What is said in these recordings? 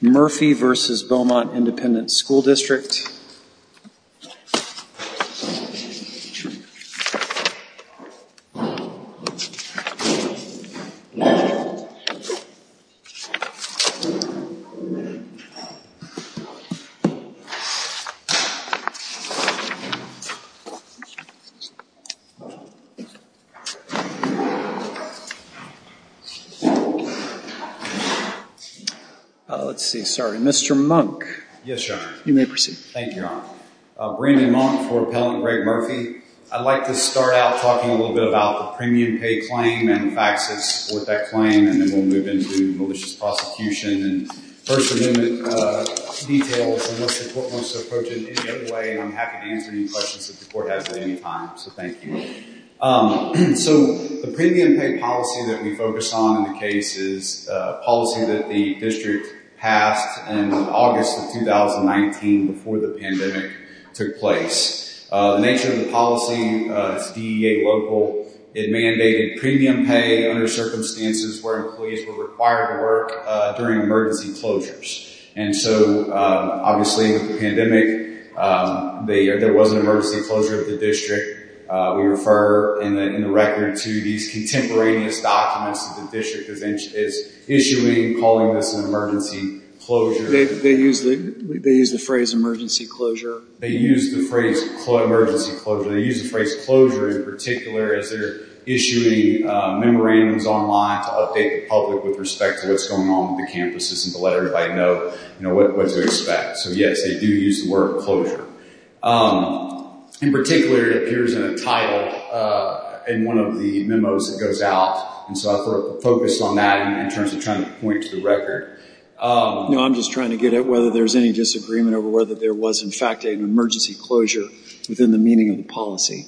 Murphy v. Beaumont Independent School District Oh, let's see, sorry, Mr. Monk? Yes, Your Honor. You may proceed. Thank you, Your Honor. Brandon Monk for Appellant Greg Murphy. I'd like to start out talking a little bit about the premium pay claim and the facts that support that claim, and then we'll move into malicious prosecution and First Amendment details and what the court wants to approach it in any other way, and I'm happy to answer any questions that the court has at any time, so thank you. So the premium pay policy that we focus on in the case is a policy that the district passed in August of 2019 before the pandemic took place. The nature of the policy is DEA local. It mandated premium pay under circumstances where employees were required to work during emergency closures, and so obviously with the pandemic, there was an emergency closure of the district. We refer in the record to these contemporaneous documents that the district is issuing, calling this an emergency closure. They use the phrase emergency closure. They use the phrase emergency closure. They use the phrase closure in particular as they're issuing memorandums online to update the public with respect to what's going on with the campuses and to let everybody know what to expect. So yes, they do use the word closure. In particular, it appears in a title in one of the memos that goes out, and so I focused on that in terms of trying to point to the record. No, I'm just trying to get at whether there's any disagreement over whether there was, in fact, an emergency closure within the meaning of the policy.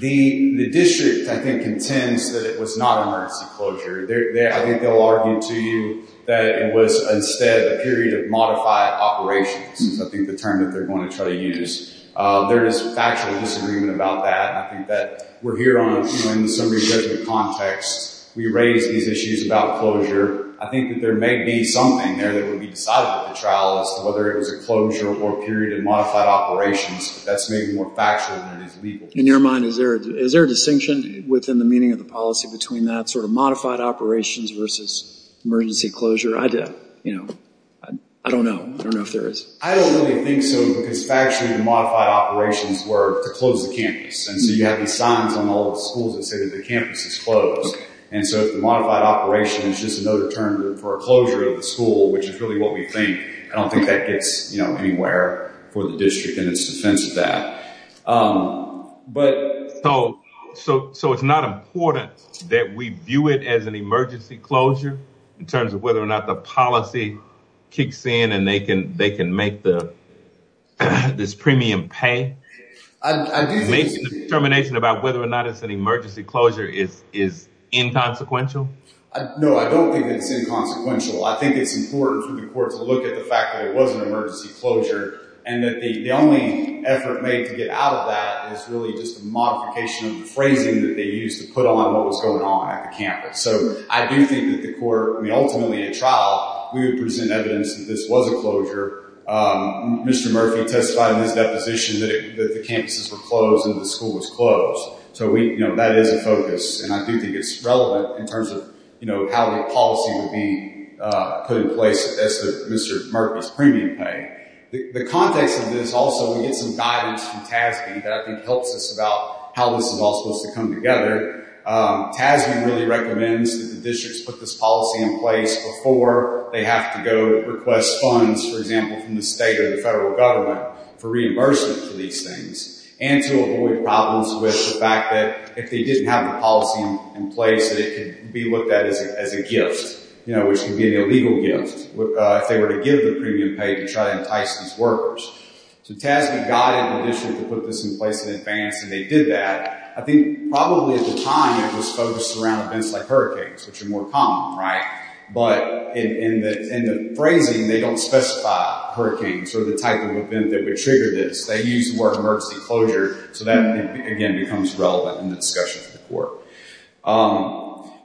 The district, I think, contends that it was not an emergency closure. I think they'll argue to you that it was instead a period of modified operations, I think the term that they're going to try to use. There is factual disagreement about that. I think that we're here in a summary judgment context. We raise these issues about closure. I think that there may be something there that would be decided at the trial as to whether it was a closure or a period of modified operations. That's maybe more factual than it is legal. In your mind, is there a distinction within the meaning of the policy between that sort of modified operations versus emergency closure? I don't know. I don't know if there is. I don't really think so because factually the modified operations were to close the campus. You have these signs on all the schools that say that the campus is closed. The modified operation is just another term for a closure of the school, which is really what we think. I don't think that gets anywhere for the district in its defense of that. It's not important that we view it as an emergency closure in terms of whether or not the policy kicks in and they can make this premium pay? The determination about whether or not it's an emergency closure is inconsequential? No, I don't think it's inconsequential. I think it's important for the court to look at the fact that it was an emergency closure and that the only effort made to get out of that is really just a modification of the phrasing that they used to put on what was going on at the campus. I do think that the court, ultimately at trial, we would present evidence that this was a closure. Mr. Murphy testified in his deposition that the campuses were closed and the school was That is a focus and I do think it's relevant in terms of how the policy would be put in place as to Mr. Murphy's premium pay. The context of this also, we get some guidance from TASB that I think helps us about how this is all supposed to come together. TASB really recommends that the districts put this policy in place before they have to go request funds, for example, from the state or the federal government for reimbursement for these things and to avoid problems with the fact that if they didn't have the policy in place, that it could be looked at as a gift, which can be an illegal gift if they were to give the premium pay to try to entice these workers. TASB guided the district to put this in place in advance and they did that. I think probably at the time it was focused around events like hurricanes, which are more common, right? But in the phrasing, they don't specify hurricanes or the type of event that would trigger this. They use the word emergency closure. So that, again, becomes relevant in the discussion with the court.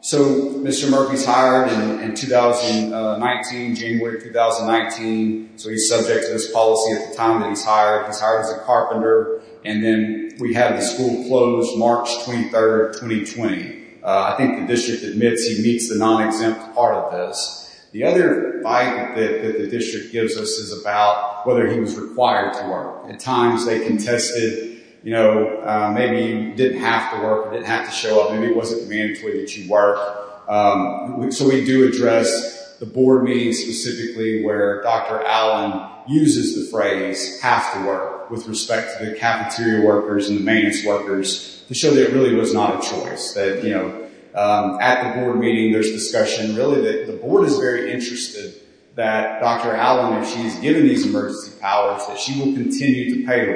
So Mr. Murphy's hired in 2019, January 2019. So he's subject to this policy at the time that he's hired. He's hired as a carpenter. And then we have the school closed March 23rd, 2020. I think the district admits he meets the non-exempt part of this. The other fight that the district gives us is about whether he was required to work. At times they contested, you know, maybe you didn't have to work, didn't have to show up, maybe it wasn't mandatory that you work. So we do address the board meetings specifically where Dr. Allen uses the phrase, have to work, with respect to the cafeteria workers and the maintenance workers to show that it really was not a choice. That, you know, at the board meeting there's discussion really that the board is very interested that Dr. Allen, if she's given these emergency powers, that she will continue to pay the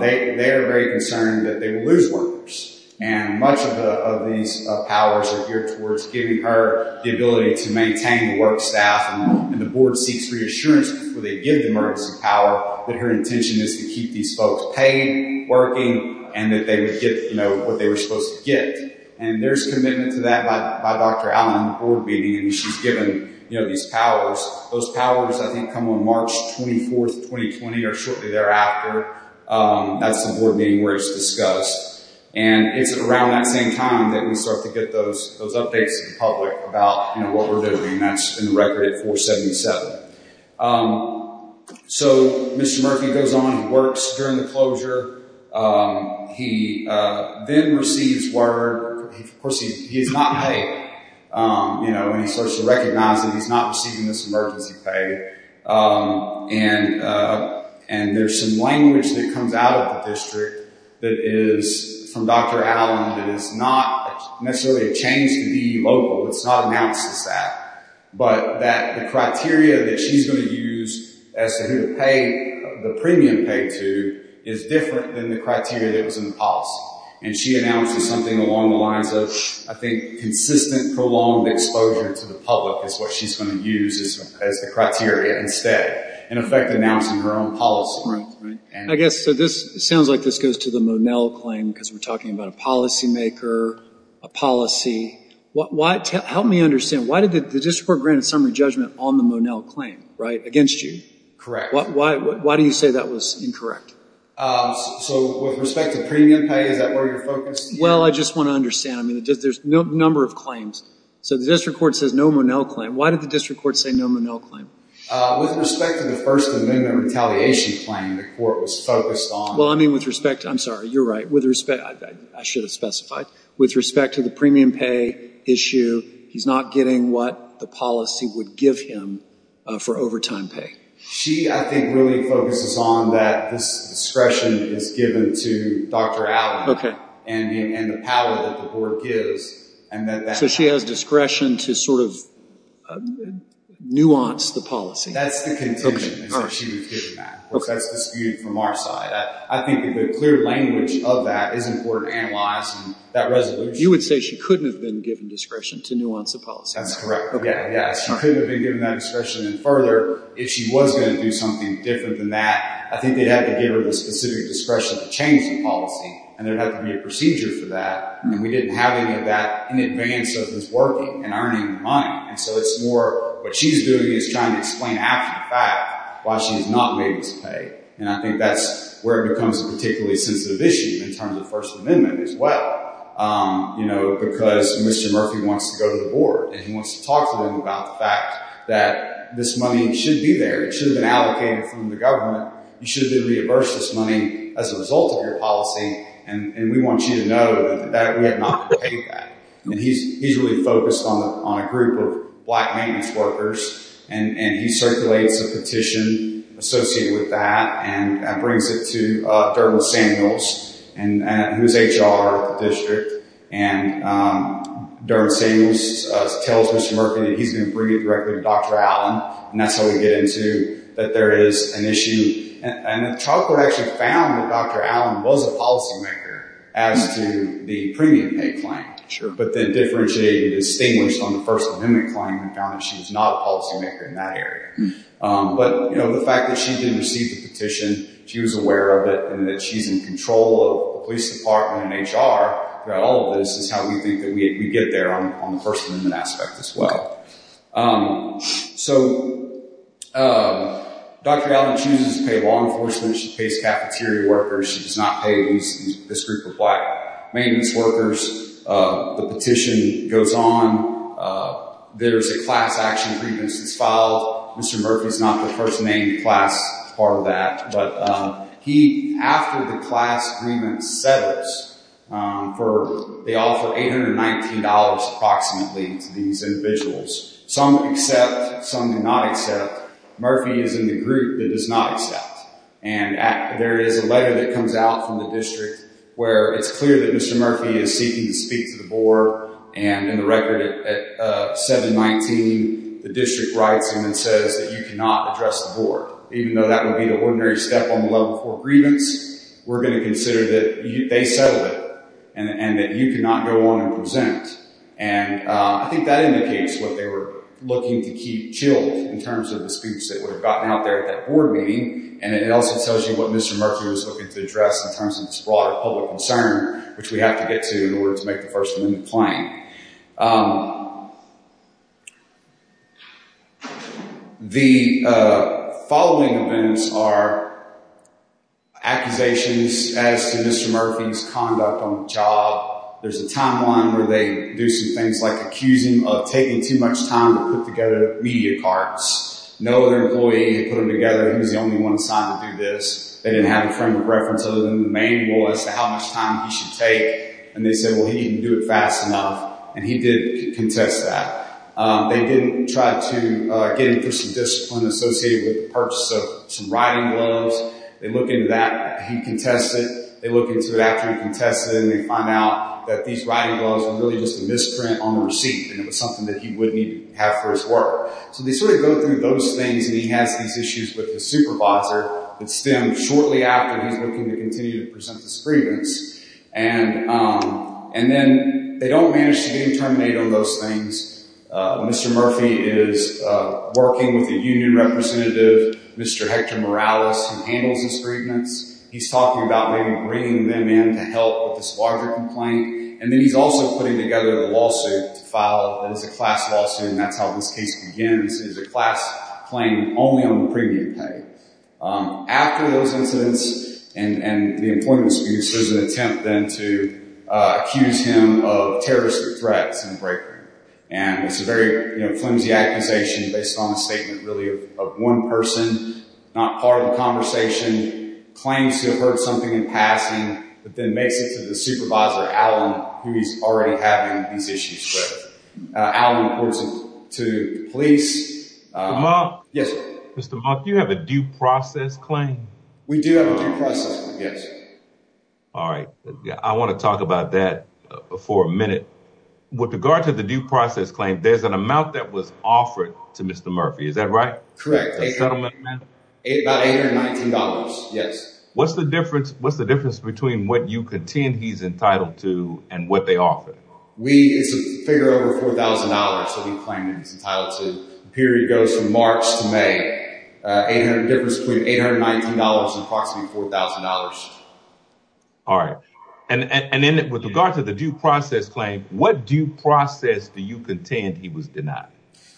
They are very concerned that they will lose workers. And much of these powers are geared towards giving her the ability to maintain the work staff and the board seeks reassurance before they give the emergency power that her intention is to keep these folks paid, working, and that they would get, you know, what they were supposed to get. And there's commitment to that by Dr. Allen at the board meeting and she's given, you know, these powers. Those powers, I think, come on March 24th, 2020 or shortly thereafter. That's the board meeting where it's discussed. And it's around that same time that we start to get those updates to the public about, you know, what we're doing. That's in the record at 477. So, Mr. Murphy goes on and works during the closure. He then receives word. Of course, he's not paid. You know, and he starts to recognize that he's not receiving this emergency pay. And there's some language that comes out of the district that is from Dr. Allen that is not necessarily a change to be local. It's not announced as that. But that the criteria that she's going to use as to who to pay the premium paid to is different than the criteria that was in the policy. And she announces something along the lines of, I think, consistent, prolonged exposure to the public is what she's going to use as the criteria instead. In effect, announcing her own policy. Right, right. I guess, so this sounds like this goes to the Monell claim because we're talking about a policymaker, a policy. Help me understand. Why did the district court grant a summary judgment on the Monell claim, right, against you? Correct. Why do you say that was incorrect? So, with respect to premium pay, is that where you're focused? Well, I just want to understand. I mean, there's a number of claims. So, the district court says no Monell claim. Why did the district court say no Monell claim? With respect to the First Amendment retaliation claim, the court was focused on. Well, I mean, with respect to, I'm sorry, you're right. I should have specified. With respect to the premium pay issue, he's not getting what the policy would give him for overtime pay. She, I think, really focuses on that this discretion is given to Dr. Allen and the power that the board gives. So, she has discretion to sort of nuance the policy. That's the contention, is that she was given that. That's disputed from our side. I think the clear language of that is important to analyze and that resolution. You would say she couldn't have been given discretion to nuance the policy. That's correct. She couldn't have been given that discretion. And further, if she was going to do something different than that, I think they'd have to give her the specific discretion to change the policy. And there'd have to be a procedure for that. And we didn't have any of that in advance of this working and earning the money. And so, it's more what she's doing is trying to explain after the fact why she's not made this pay. And I think that's where it becomes a particularly sensitive issue in terms of First Amendment as well. You know, because Mr. Murphy wants to go to the board and he wants to talk to them about the fact that this money should be there. It should have been allocated from the government. You should have reimbursed this money as a result of your policy. And we want you to know that we have not paid that. And he's really focused on a group of black maintenance workers and he circulates a petition associated with that. And that brings it to Dermot Samuels, who's HR at the district. And Dermot Samuels tells Mr. Murphy that he's going to bring it directly to Dr. Allen. And that's how we get into that there is an issue. And the child court actually found that Dr. Allen was a policymaker as to the premium pay claim. But then differentiated and distinguished on the First Amendment claim and found that she was not a policymaker in that area. But, you know, the fact that she didn't receive the petition, she was aware of it and that she's in control of the police department and HR throughout all of this is how we think that we get there on the First Amendment aspect as well. So Dr. Allen chooses to pay law enforcement. She pays cafeteria workers. She does not pay this group of black maintenance workers. The petition goes on. There's a class action grievance that's filed. Mr. Murphy's not the first named class part of that. But he, after the class agreement settles, they offer $819 approximately to these individuals. Some accept, some do not accept. Murphy is in the group that does not accept. And there is a letter that comes out from the district where it's clear that Mr. Murphy is seeking to speak to the board. And in the record at 719, the district writes in and says that you cannot address the board. Even though that would be the ordinary step on the level for grievance, we're going to consider that they settled it and that you cannot go on and present. And I think that indicates what they were looking to keep chilled in terms of the speech that would have gotten out there at that board meeting. And it also tells you what Mr. Murphy was looking to address in terms of this broader public concern, which we have to get to in order to make the First Amendment claim. The following events are accusations as to Mr. Murphy's conduct on the job. There's a timeline where they do some things like accusing him of taking too much time to put together media cards. No other employee had put them together. He was the only one assigned to do this. They didn't have a frame of reference other than the manual as to how much time he should take. And they said, well, he didn't do it fast enough. And he did contest that. They did try to get him through some discipline associated with the purchase of some riding gloves. They look into that. He contested. They look into it after he contested. And they find out that these riding gloves were really just a misprint on a receipt. And it was something that he wouldn't even have for his work. So they sort of go through those things. And he has these issues with the supervisor that stem shortly after he's looking to continue to present his grievance. And then they don't manage to get him terminated on those things. Mr. Murphy is working with a union representative, Mr. Hector Morales, who handles his grievance. He's talking about maybe bringing them in to help with this larger complaint. And then he's also putting together a lawsuit to file. And it's a class lawsuit. And that's how this case begins. It's a class claim only on the premium pay. After those incidents and the employment excuse, there's an attempt then to accuse him of terrorist threats in the break room. And it's a very flimsy accusation based on a statement really of one person, not part of the conversation, claims to have heard something in passing, but then makes it to the supervisor, Alan, who he's already having these issues with. Alan reports it to the police. Yes, sir. Mr. Mock, do you have a due process claim? We do have a due process one, yes. All right. I want to talk about that for a minute. With regard to the due process claim, there's an amount that was offered to Mr. Murphy. Is that right? Correct. A settlement amount? About $819, yes. What's the difference between what you contend he's entitled to and what they offer? It's a figure over $4,000 that he's claiming he's entitled to. The period goes from March to May. The difference between $819 and approximately $4,000. All right. And then with regard to the due process claim, what due process do you contend he was denied?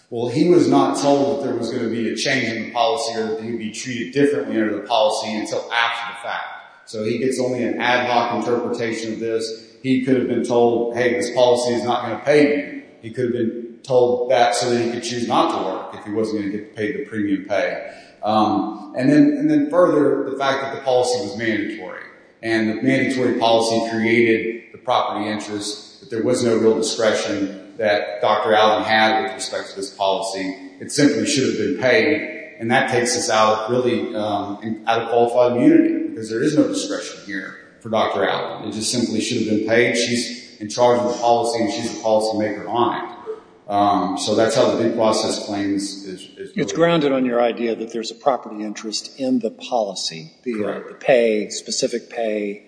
Well, he was not told that there was going to be a change in the policy or that he would be treated differently under the policy until after the fact. So it's only an ad hoc interpretation of this. He could have been told, hey, this policy is not going to pay me. He could have been told that so that he could choose not to work if he wasn't going to get paid the premium pay. And then further, the fact that the policy was mandatory. And the mandatory policy created the property interest. There was no real discretion that Dr. Allen had with respect to this policy. It simply should have been paid. And that takes us out really out of qualified immunity because there is no discretion here for Dr. Allen. It just simply should have been paid. She's in charge of the policy and she's a policymaker on it. So that's how the due process claims is. It's grounded on your idea that there's a property interest in the policy. The pay, specific pay,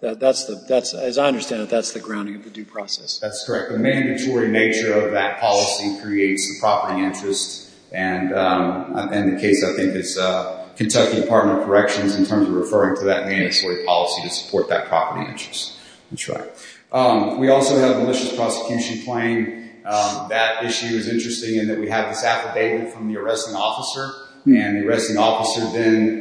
that's the, as I understand it, that's the grounding of the due process. That's correct. The mandatory nature of that policy creates the property interest. And in the case, I think it's Kentucky Department of Corrections in terms of referring to that property interest. That's right. We also have a malicious prosecution claim. That issue is interesting in that we have this affidavit from the arresting officer. And the arresting officer then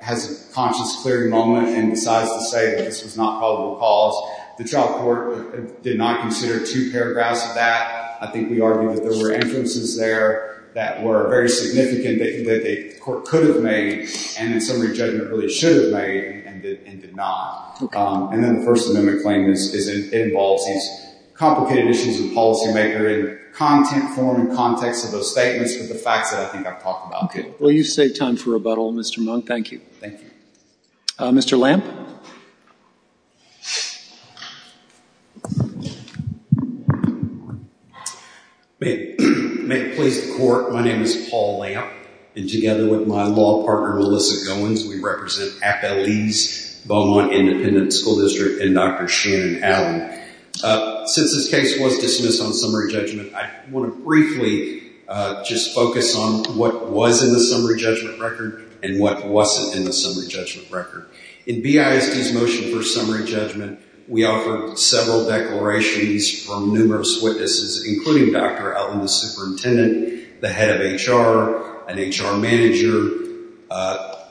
has a conscience-clearing moment and decides to say that this was not probable cause. The trial court did not consider two paragraphs of that. I think we argued that there were influences there that were very significant that the court could have made and in summary judgment really should have made and did not. Okay. And then the First Amendment claim is it involves these complicated issues of policymaker in content form and context of those statements with the facts that I think I've talked about. Okay. Well, you've saved time for rebuttal, Mr. Monk. Thank you. Thank you. Mr. Lamp? May it please the court, my name is Paul Lamp. And together with my law partner, Melissa Goins, we represent Appellees, Beaumont Independent School District, and Dr. Shannon Allen. Since this case was dismissed on summary judgment, I want to briefly just focus on what was in the summary judgment record and what wasn't in the summary judgment record. In BISD's motion for summary judgment, we offered several declarations from numerous witnesses, including Dr. Allen, the superintendent, the head of HR, an HR manager,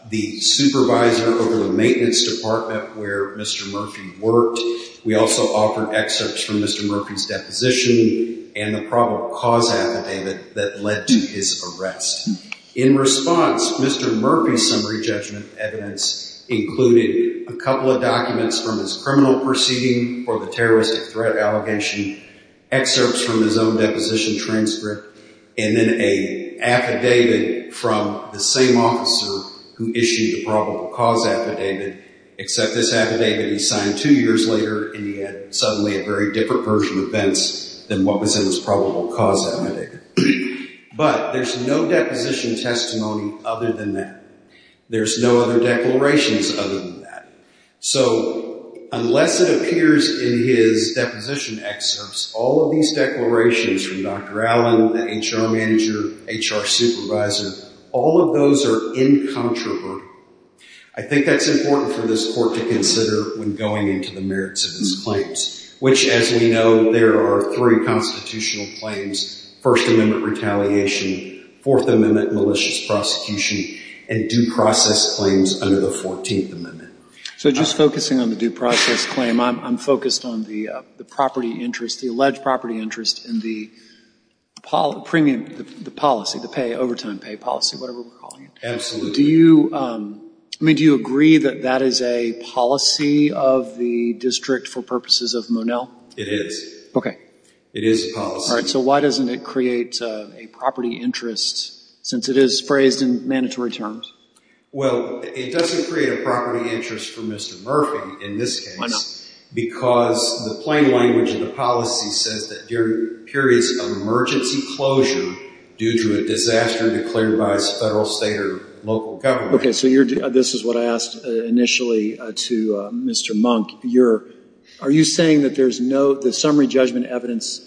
the supervisor over the maintenance department where Mr. Murphy worked. We also offered excerpts from Mr. Murphy's deposition and the probable cause affidavit that led to his arrest. In response, Mr. Murphy's summary judgment evidence included a couple of documents from his criminal proceeding for the terroristic threat allegation, excerpts from his own deposition transcript, and then an affidavit from the same officer who issued the probable cause affidavit, except this affidavit he signed two years later and he had suddenly a very different version of events than what was in his probable cause affidavit. But there's no deposition testimony other than that. There's no other declarations other than that. So unless it appears in his deposition excerpts, all of these declarations from Dr. Allen, the HR manager, HR supervisor, all of those are incontrovertible. I think that's important for this court to consider when going into the merits of these claims, which as we know, there are three constitutional claims, First Amendment retaliation, Fourth Amendment malicious prosecution, and due process claims under the Fourteenth Amendment. So just focusing on the due process claim, I'm focused on the property interest, the alleged property interest in the policy, the pay, overtime pay policy, whatever we're calling it. Absolutely. Do you agree that that is a policy of the district for purposes of Monell? It is. Okay. It is a policy. All right. So why doesn't it create a property interest since it is phrased in mandatory terms? Well, it doesn't create a property interest for Mr. Murphy in this case. Because the plain language of the policy says that during periods of emergency closure due to a disaster declared by a Federal, State, or local government. Okay. So this is what I asked initially to Mr. Monk. Are you saying that there's no – the summary judgment evidence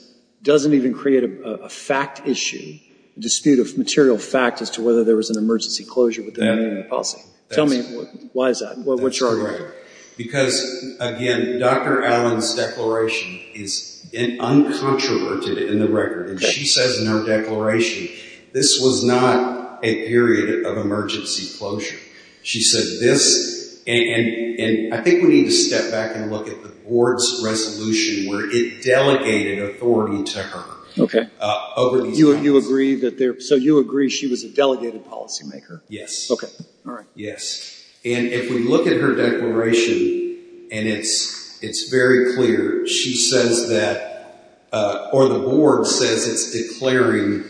doesn't even create a fact issue, a dispute of material fact as to whether there was an emergency closure with the amendment of the policy? That's correct. Tell me why is that? What's your argument? That's correct. Because, again, Dr. Allen's declaration is uncontroverted in the record. Okay. And she says in her declaration, this was not a period of emergency closure. She said this – and I think we need to step back and look at the board's resolution where it delegated authority to her. Okay. Over these times. You agree that there – so you agree she was a delegated policymaker? Yes. Okay. All right. Yes. And if we look at her declaration, and it's very clear, she says that – or the board says it's declaring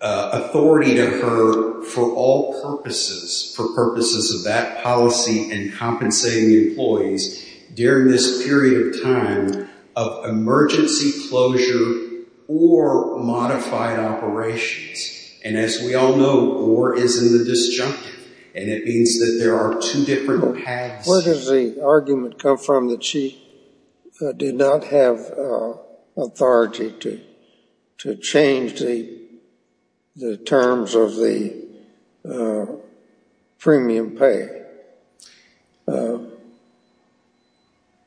authority to her for all purposes, for purposes of that policy and compensating employees during this period of time of emergency closure or modified operations. And as we all know, war is in the disjunctive, and it means that there are two different paths. Where does the argument come from that she did not have authority to change the terms of the premium pay?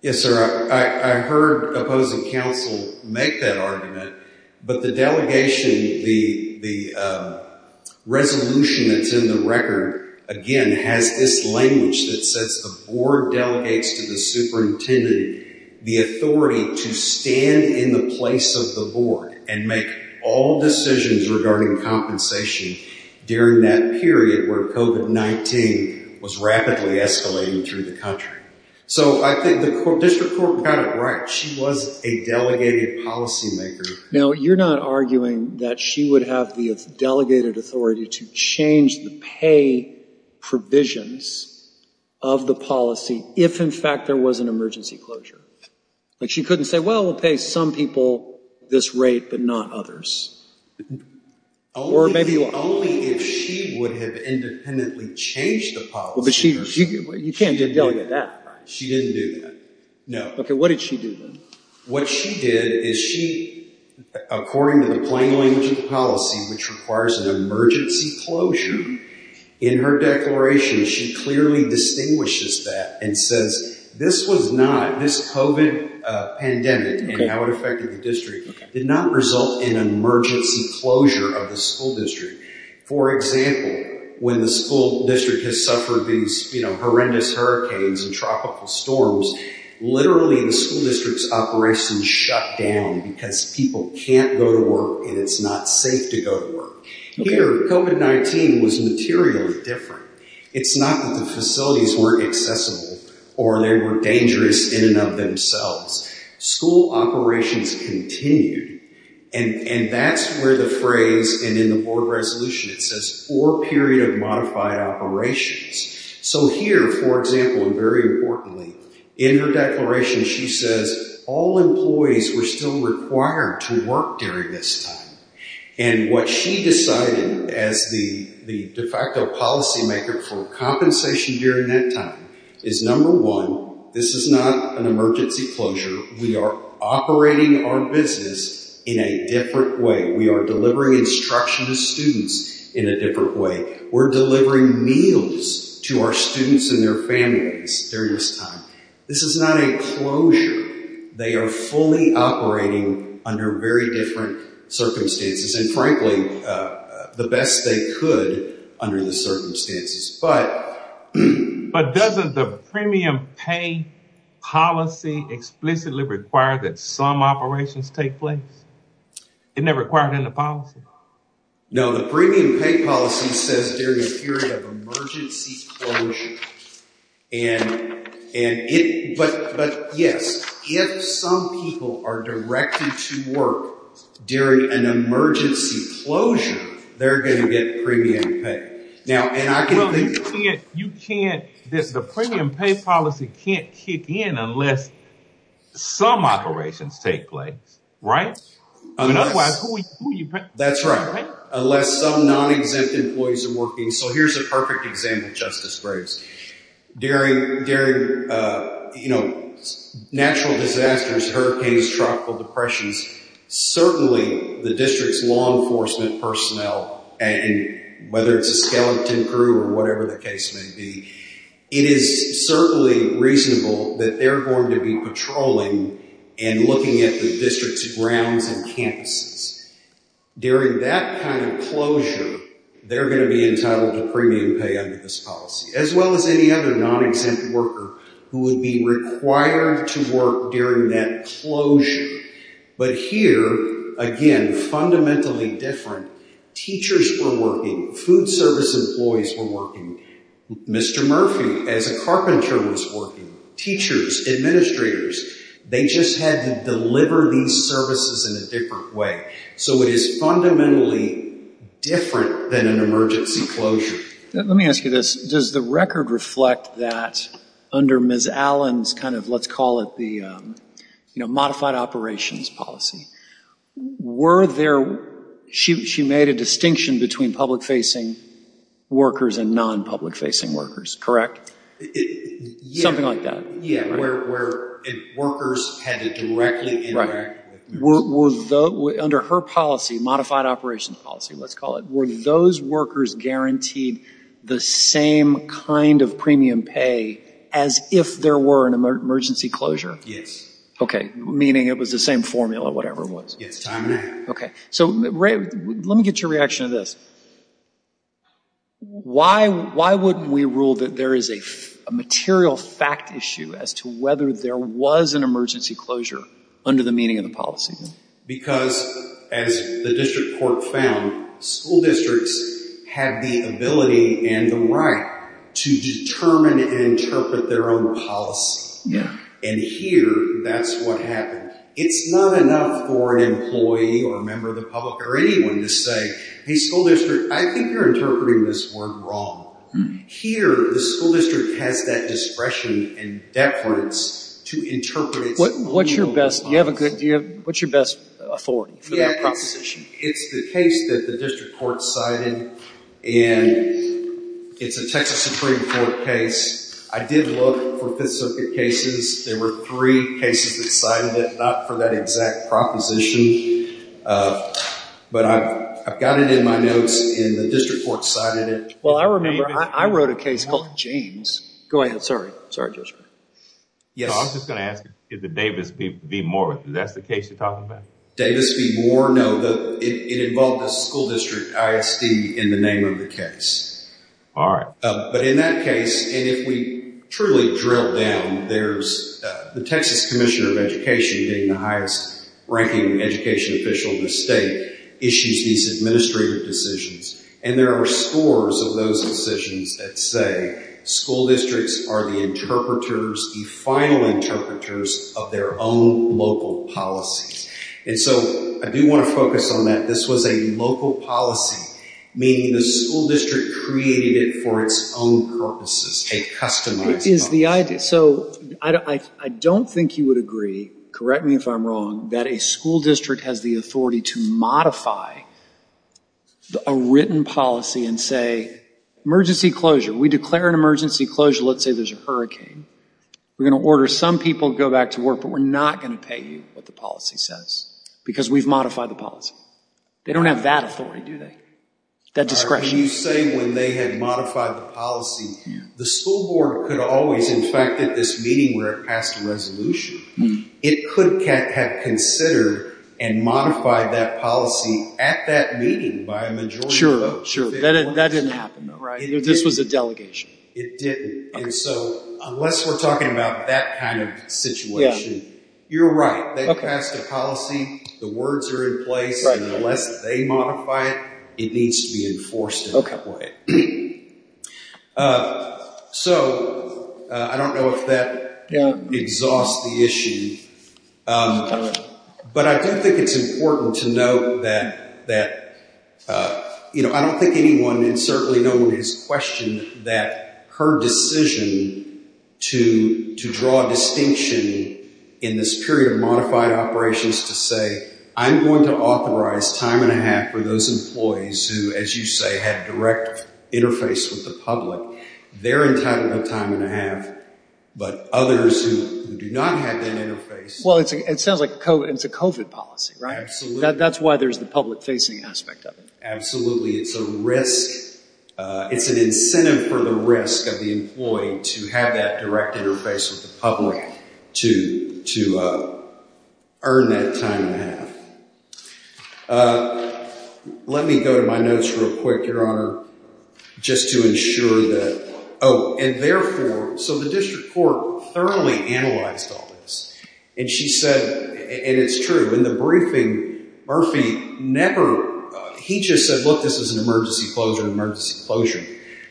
Yes, sir. I heard opposing counsel make that argument, but the delegation, the resolution that's in the record, again, has this language that says the board delegates to the superintendent the authority to stand in the place of the board and make all decisions regarding compensation during that period where COVID-19 was rapidly escalating through the country. So I think the district court got it right. She was a delegated policymaker. Now, you're not arguing that she would have the delegated authority to change the pay provisions of the policy if, in fact, there was an emergency closure. Like, she couldn't say, well, we'll pay some people this rate but not others. Only if she would have independently changed the policy. You can't delegate that. She didn't do that. No. Okay, what did she do then? What she did is she, according to the plain language of the policy, which requires an emergency closure, in her declaration, she clearly distinguishes that and says this was not, this COVID pandemic and how it affected the district, did not result in an emergency closure of the school district. For example, when the school district has suffered these horrendous hurricanes and tropical storms, literally the school district's operations shut down because people can't go to work and it's not safe to go to work. Here, COVID-19 was materially different. It's not that the facilities weren't accessible or they were dangerous in and of themselves. School operations continued. And that's where the phrase, and in the board resolution, it says four period of modified operations. So here, for example, and very importantly, in her declaration, she says all employees were still required to work during this time. And what she decided as the de facto policy maker for compensation during that time is number one, this is not an emergency closure. We are operating our business in a different way. We are delivering instruction to students in a different way. We're delivering meals to our students and their families during this time. This is not a closure. They are fully operating under very different circumstances. And frankly, the best they could under the circumstances. But doesn't the premium pay policy explicitly require that some operations take place? Isn't that required in the policy? No, the premium pay policy says during a period of emergency closure. But yes, if some people are directed to work during an emergency closure, they're going to get premium pay. Well, you can't, the premium pay policy can't kick in unless some operations take place. And otherwise, who are you paying? That's right. Unless some non-exempt employees are working. So here's a perfect example, Justice Graves. During, you know, natural disasters, hurricanes, tropical depressions, certainly the district's law enforcement personnel, whether it's a skeleton crew or whatever the case may be, it is certainly reasonable that they're going to be patrolling and looking at the district's grounds and campuses. During that kind of closure, they're going to be entitled to premium pay under this policy. As well as any other non-exempt worker who would be required to work during that closure. But here, again, fundamentally different. Teachers were working. Food service employees were working. Mr. Murphy, as a carpenter, was working. Teachers, administrators, they just had to deliver these services in a different way. So it is fundamentally different than an emergency closure. Let me ask you this. Does the record reflect that under Ms. Allen's kind of, let's call it the, you know, modified operations policy, were there, she made a distinction between public-facing workers and non-public-facing workers, correct? Something like that. Yeah, where workers had to directly interact. Right. Were those, under her policy, modified operations policy, let's call it, were those workers guaranteed the same kind of premium pay as if there were an emergency closure? Yes. Okay, meaning it was the same formula, whatever it was. Yes, time and after. Okay. So let me get your reaction to this. Why wouldn't we rule that there is a material fact issue as to whether there was an emergency closure under the meaning of the policy? Because, as the district court found, school districts have the ability and the right to determine and interpret their own policy. Yeah. And here, that's what happened. It's not enough for an employee or a member of the public or anyone to say, hey, school district, I think you're interpreting this word wrong. Here, the school district has that discretion and decadence to interpret it. What's your best authority for that proposition? It's the case that the district court cited, and it's a Texas Supreme Court case. I did look for Fifth Circuit cases. There were three cases that cited it, not for that exact proposition. But I've got it in my notes, and the district court cited it. Well, I remember I wrote a case called James. Go ahead. Sorry. Sorry, Judge Brewer. Yes. I was just going to ask, is it Davis v. Moore? Is that the case you're talking about? Davis v. Moore? No. It involved a school district ISD in the name of the case. All right. But in that case, and if we truly drill down, there's the Texas Commissioner of Education, being the highest-ranking education official in the state, issues these administrative decisions. And there are scores of those decisions that say school districts are the interpreters, the final interpreters, of their own local policies. And so I do want to focus on that. This was a local policy, meaning the school district created it for its own purposes, a customized policy. Is the idea. So I don't think you would agree, correct me if I'm wrong, that a school district has the authority to modify a written policy and say, emergency closure. We declare an emergency closure. Let's say there's a hurricane. We're going to order some people to go back to work, but we're not going to pay you what the policy says because we've modified the policy. They don't have that authority, do they? That discretion. All right. But you say when they had modified the policy, the school board could always, in fact, at this meeting where it passed a resolution, it could have considered and modified that policy at that meeting by a majority vote. Sure. Sure. That didn't happen, though, right? This was a delegation. It didn't. And so unless we're talking about that kind of situation, you're right. They passed a policy. The words are in place. And unless they modify it, it needs to be enforced in that way. So I don't know if that exhausts the issue, but I do think it's important to note that, you know, I don't think anyone and certainly no one has questioned that her decision to draw a distinction in this period of modified operations to say, I'm going to authorize time and a half for those employees who, as you say, had direct interface with the public. They're entitled to time and a half, but others who do not have that interface. Well, it sounds like it's a COVID policy, right? Absolutely. That's why there's the public facing aspect of it. Absolutely. It's a risk. It's an incentive for the risk of the employee to have that direct interface with the public to earn that time and a half. Let me go to my notes real quick, Your Honor, just to ensure that. Oh, and therefore, so the district court thoroughly analyzed all this. And she said, and it's true. In the briefing, Murphy never, he just said, look, this is an emergency closure,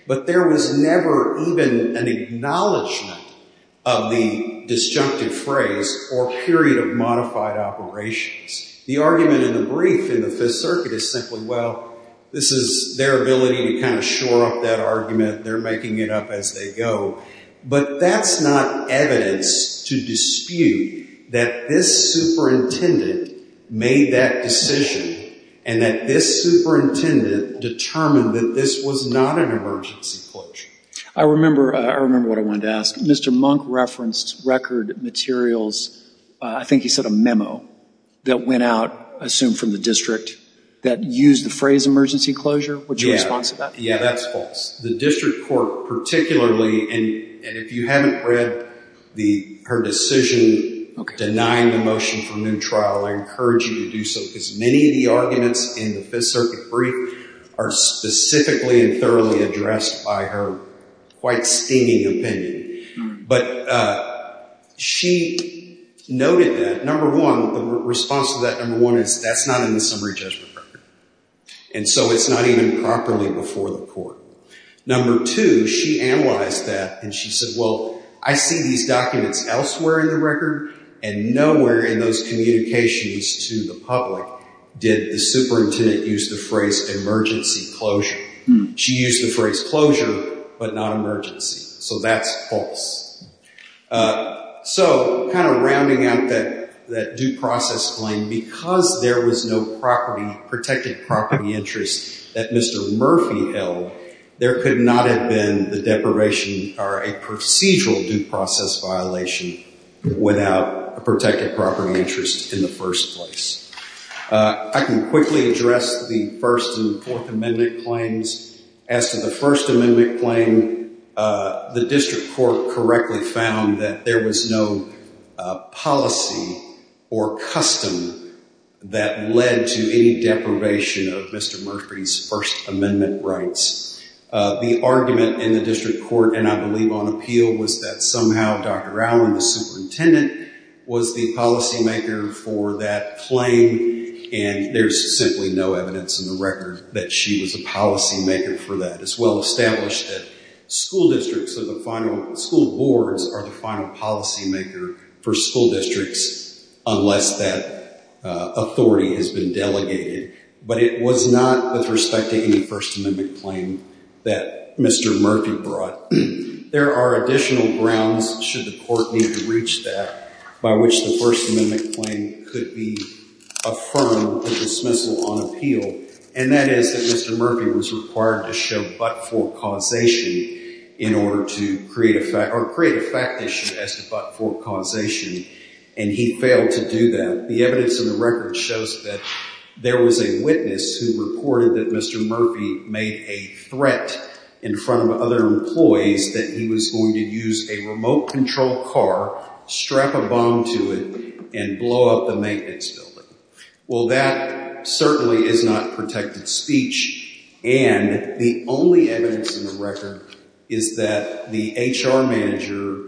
but there was never even an acknowledgement of the disjunctive phrase or period of modified operations. The argument in the brief in the Fifth Circuit is simply, well, this is their ability to kind of shore up that argument. They're making it up as they go. But that's not evidence to dispute that this superintendent made that decision and that this superintendent determined that this was not an emergency closure. I remember what I wanted to ask. Mr. Monk referenced record materials. I think he said a memo that went out, assumed from the district, that used the phrase emergency closure. What's your response to that? Yeah, that's false. The district court particularly, and if you haven't read her decision denying the motion for a new trial, I encourage you to do so, because many of the arguments in the Fifth Circuit brief are specifically and thoroughly addressed by her quite stinging opinion. But she noted that, number one, the response to that, number one, is that's not in the summary judgment record. And so it's not even properly before the court. Number two, she analyzed that, and she said, well, I see these documents elsewhere in the record and nowhere in those communications to the public did the superintendent use the phrase emergency closure. She used the phrase closure but not emergency. So that's false. So kind of rounding out that due process claim, because there was no protected property interest that Mr. Murphy held, there could not have been the deprivation or a procedural due process violation without a protected property interest in the first place. I can quickly address the First and Fourth Amendment claims. As to the First Amendment claim, the district court correctly found that there was no policy or custom that led to any deprivation of Mr. Murphy's First Amendment rights. The argument in the district court, and I believe on appeal, was that somehow Dr. Allen, the superintendent, was the policymaker for that claim. And there's simply no evidence in the record that she was a policymaker for that. It's well established that school districts or the final school boards are the final policymaker for school districts unless that authority has been delegated. But it was not with respect to any First Amendment claim that Mr. Murphy brought. There are additional grounds, should the court need to reach that, by which the First Amendment claim could be affirmed with dismissal on appeal, and that is that Mr. Murphy was required to show but-for causation in order to create a fact issue as to but-for causation, and he failed to do that. The evidence in the record shows that there was a witness who reported that Mr. Murphy made a threat in front of other employees that he was going to use a remote-controlled car, strap a bomb to it, and blow up the maintenance building. Well, that certainly is not protected speech, and the only evidence in the record is that the HR manager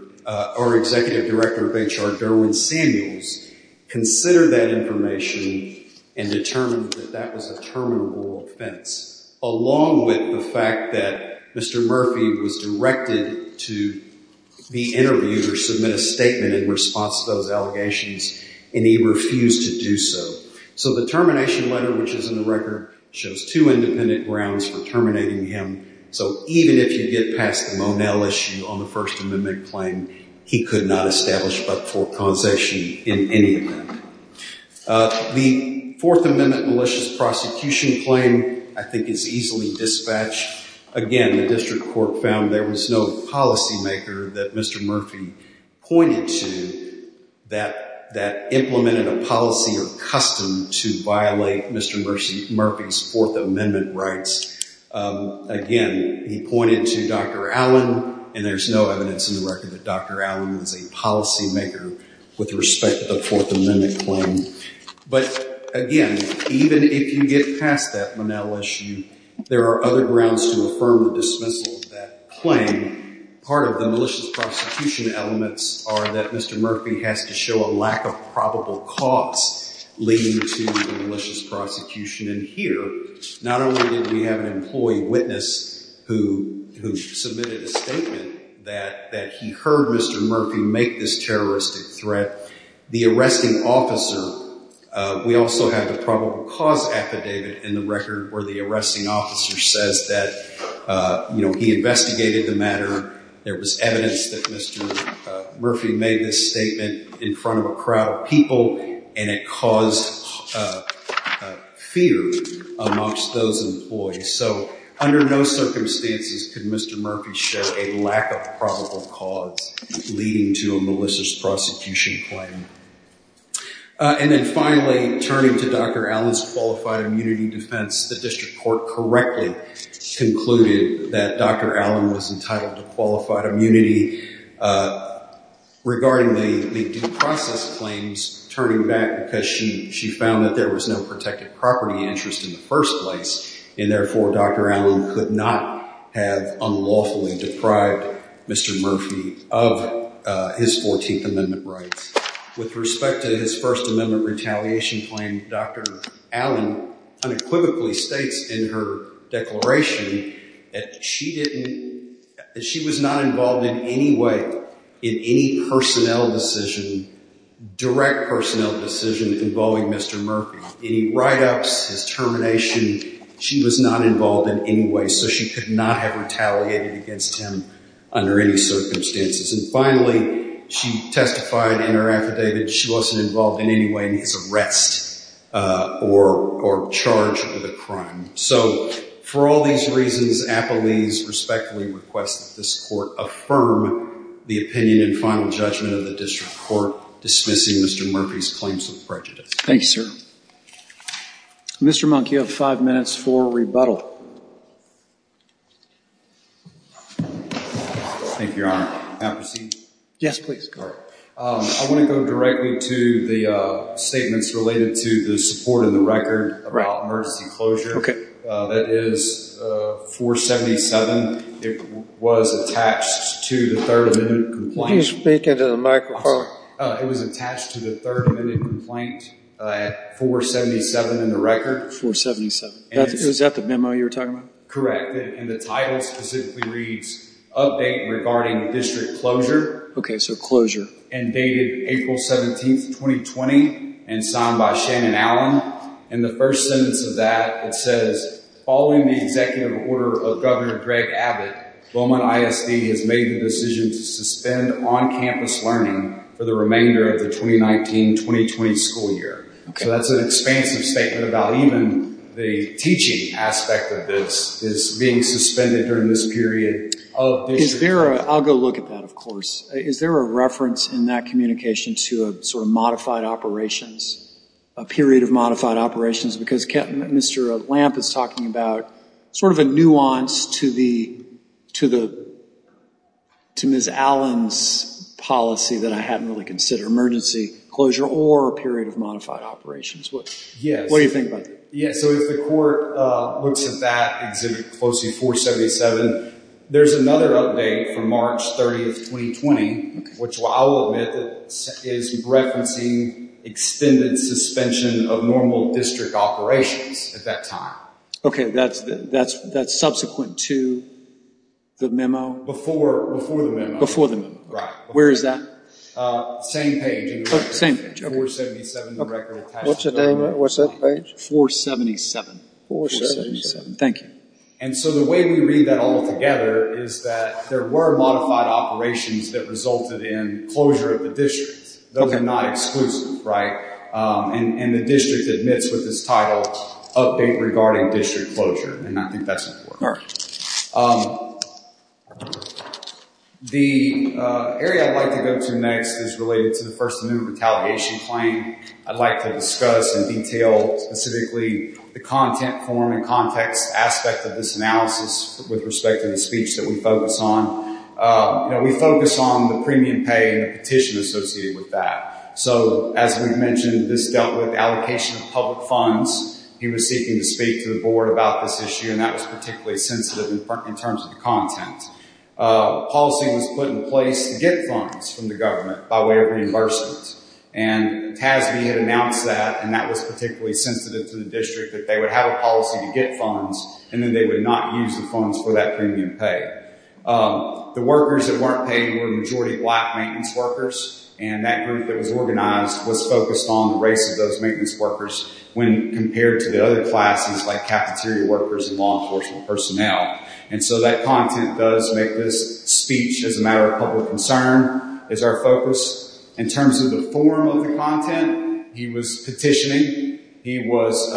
or executive director of HR, Derwin Samuels, considered that information and determined that that was a terminable offense, along with the fact that Mr. Murphy was directed to be interviewed or submit a statement in response to those allegations, and he refused to do so. So the termination letter, which is in the record, shows two independent grounds for terminating him. So even if you get past the Monell issue on the First Amendment claim, he could not establish but-for causation in any of them. The Fourth Amendment malicious prosecution claim, I think, is easily dispatched. Again, the district court found there was no policymaker that Mr. Murphy pointed to that implemented a policy or custom to violate Mr. Murphy's Fourth Amendment rights. Again, he pointed to Dr. Allen, and there's no evidence in the record that Dr. Allen was a policymaker with respect to the Fourth Amendment claim. But again, even if you get past that Monell issue, there are other grounds to affirm the dismissal of that claim. Part of the malicious prosecution elements are that Mr. Murphy has to show a lack of probable cause leading to the malicious prosecution. And here, not only did we have an employee witness who submitted a statement that he heard Mr. Murphy make this terroristic threat, the arresting officer, we also have the probable cause affidavit in the record where the arresting officer says that, you know, he investigated the matter, there was evidence that Mr. Murphy made this statement in front of a crowd of people, and it caused fear amongst those employees. So under no circumstances could Mr. Murphy show a lack of probable cause leading to a malicious prosecution claim. And then finally, turning to Dr. Allen's qualified immunity defense, the district court correctly concluded that Dr. Allen was entitled to qualified immunity regarding the due process claims, turning back because she found that there was no protected property interest in the first place, and therefore Dr. Allen could not have unlawfully deprived Mr. Murphy of his Fourteenth Amendment rights. With respect to his First Amendment retaliation claim, Dr. Allen unequivocally states in her declaration that she didn't, that she was not involved in any way in any personnel decision, direct personnel decision involving Mr. Murphy. Any write-ups, his termination, she was not involved in any way, so she could not have retaliated against him under any circumstances. And finally, she testified in her affidavit that she wasn't involved in any way in his arrest or charge of the crime. So for all these reasons, appellees respectfully request that this court affirm the opinion and final judgment of the district court dismissing Mr. Murphy's claims of prejudice. Thank you, sir. Mr. Monk, you have five minutes for rebuttal. Thank you, Your Honor. May I proceed? Yes, please. I want to go directly to the statements related to the support in the record about emergency closure. That is 477. It was attached to the Third Amendment complaint. Can you speak into the microphone? It was attached to the Third Amendment complaint at 477 in the record. 477. Is that the memo you were talking about? Correct. And the title specifically reads, update regarding district closure. Okay, so closure. And dated April 17, 2020, and signed by Shannon Allen. And the first sentence of that, it says, following the executive order of Governor Greg Abbott, Beaumont ISD has made the decision to suspend on-campus learning for the remainder of the 2019-2020 school year. So that's an expansive statement about even the teaching aspect of this is being suspended during this period. I'll go look at that, of course. Is there a reference in that communication to a sort of modified operations, a period of modified operations? Because Mr. Lamp is talking about sort of a nuance to Ms. Allen's policy that I hadn't really considered, emergency closure or a period of modified operations. What do you think about that? Yeah, so if the court looks at that exhibit closely, 477, there's another update from March 30, 2020, which I'll admit is referencing extended suspension of normal district operations at that time. Okay. That's subsequent to the memo? Before the memo. Before the memo. Right. Where is that? Same page. 477 in the record. What's the date on that? What's that page? 477. 477. Thank you. And so the way we read that all together is that there were modified operations that resulted in closure of the district. Okay. Those are not exclusive, right? And the district admits with this title, update regarding district closure, and I think that's important. All right. The area I'd like to go to next is related to the first amendment retaliation claim. I'd like to discuss in detail specifically the content form and context aspect of this analysis with respect to the speech that we focus on. We focus on the premium pay and the petition associated with that. So as we've mentioned, this dealt with allocation of public funds. He was seeking to speak to the board about this issue, and that was particularly sensitive in terms of the content. Policy was put in place to get funds from the government by way of reimbursement, and TASB had announced that, and that was particularly sensitive to the district, that they would have a policy to get funds, and then they would not use the funds for that premium pay. The workers that weren't paid were majority black maintenance workers, and that group that was organized was focused on the race of those maintenance workers when compared to the other classes, like cafeteria workers and law enforcement personnel. And so that content does make this speech as a matter of public concern is our focus. In terms of the form of the content, he was petitioning. He was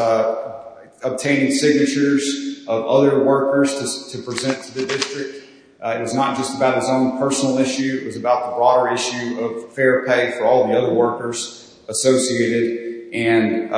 obtaining signatures of other workers to present to the district. It was not just about his own personal issue. It was about the broader issue of fair pay for all the other workers associated, and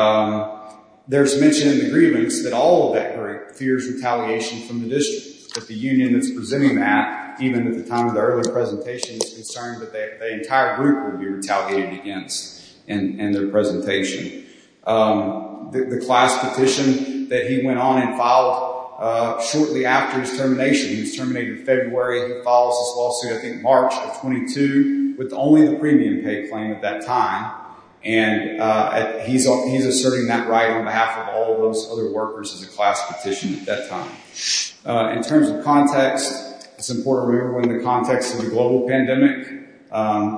there's mention in the grievance that all of that group fears retaliation from the district, that the union that's presenting that, even at the time of the earlier presentation, was concerned that the entire group would be retaliated against in their presentation. The class petition that he went on and filed shortly after his termination, he was terminated in February, and he files his lawsuit, I think, March of 22, with only the premium pay claim at that time, and he's asserting that right on behalf of all of those other workers as a class petition at that time. In terms of context, it's important to remember in the context of the global pandemic,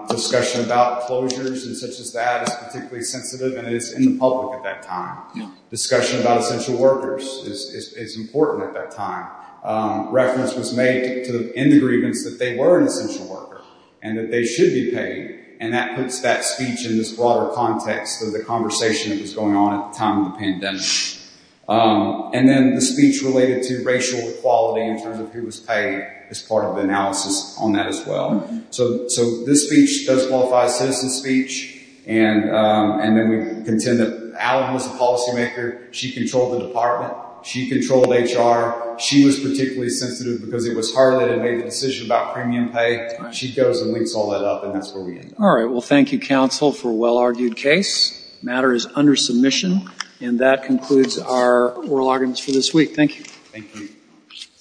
discussion about closures and such as that is particularly sensitive, and it is in the public at that time. Discussion about essential workers is important at that time. Reference was made in the grievance that they were an essential worker and that they should be paid, and that puts that speech in this broader context of the conversation that was going on at the time of the pandemic. And then the speech related to racial equality in terms of who was paid is part of the analysis on that as well. So this speech does qualify as citizen speech, and then we contend that Allen was a policymaker. She controlled the department. She controlled HR. She was particularly sensitive because it was her that had made the decision about premium pay. She goes and links all that up, and that's where we end up. All right. Well, thank you, counsel, for a well-argued case. This matter is under submission, and that concludes our oral arguments for this week. Thank you. Thank you.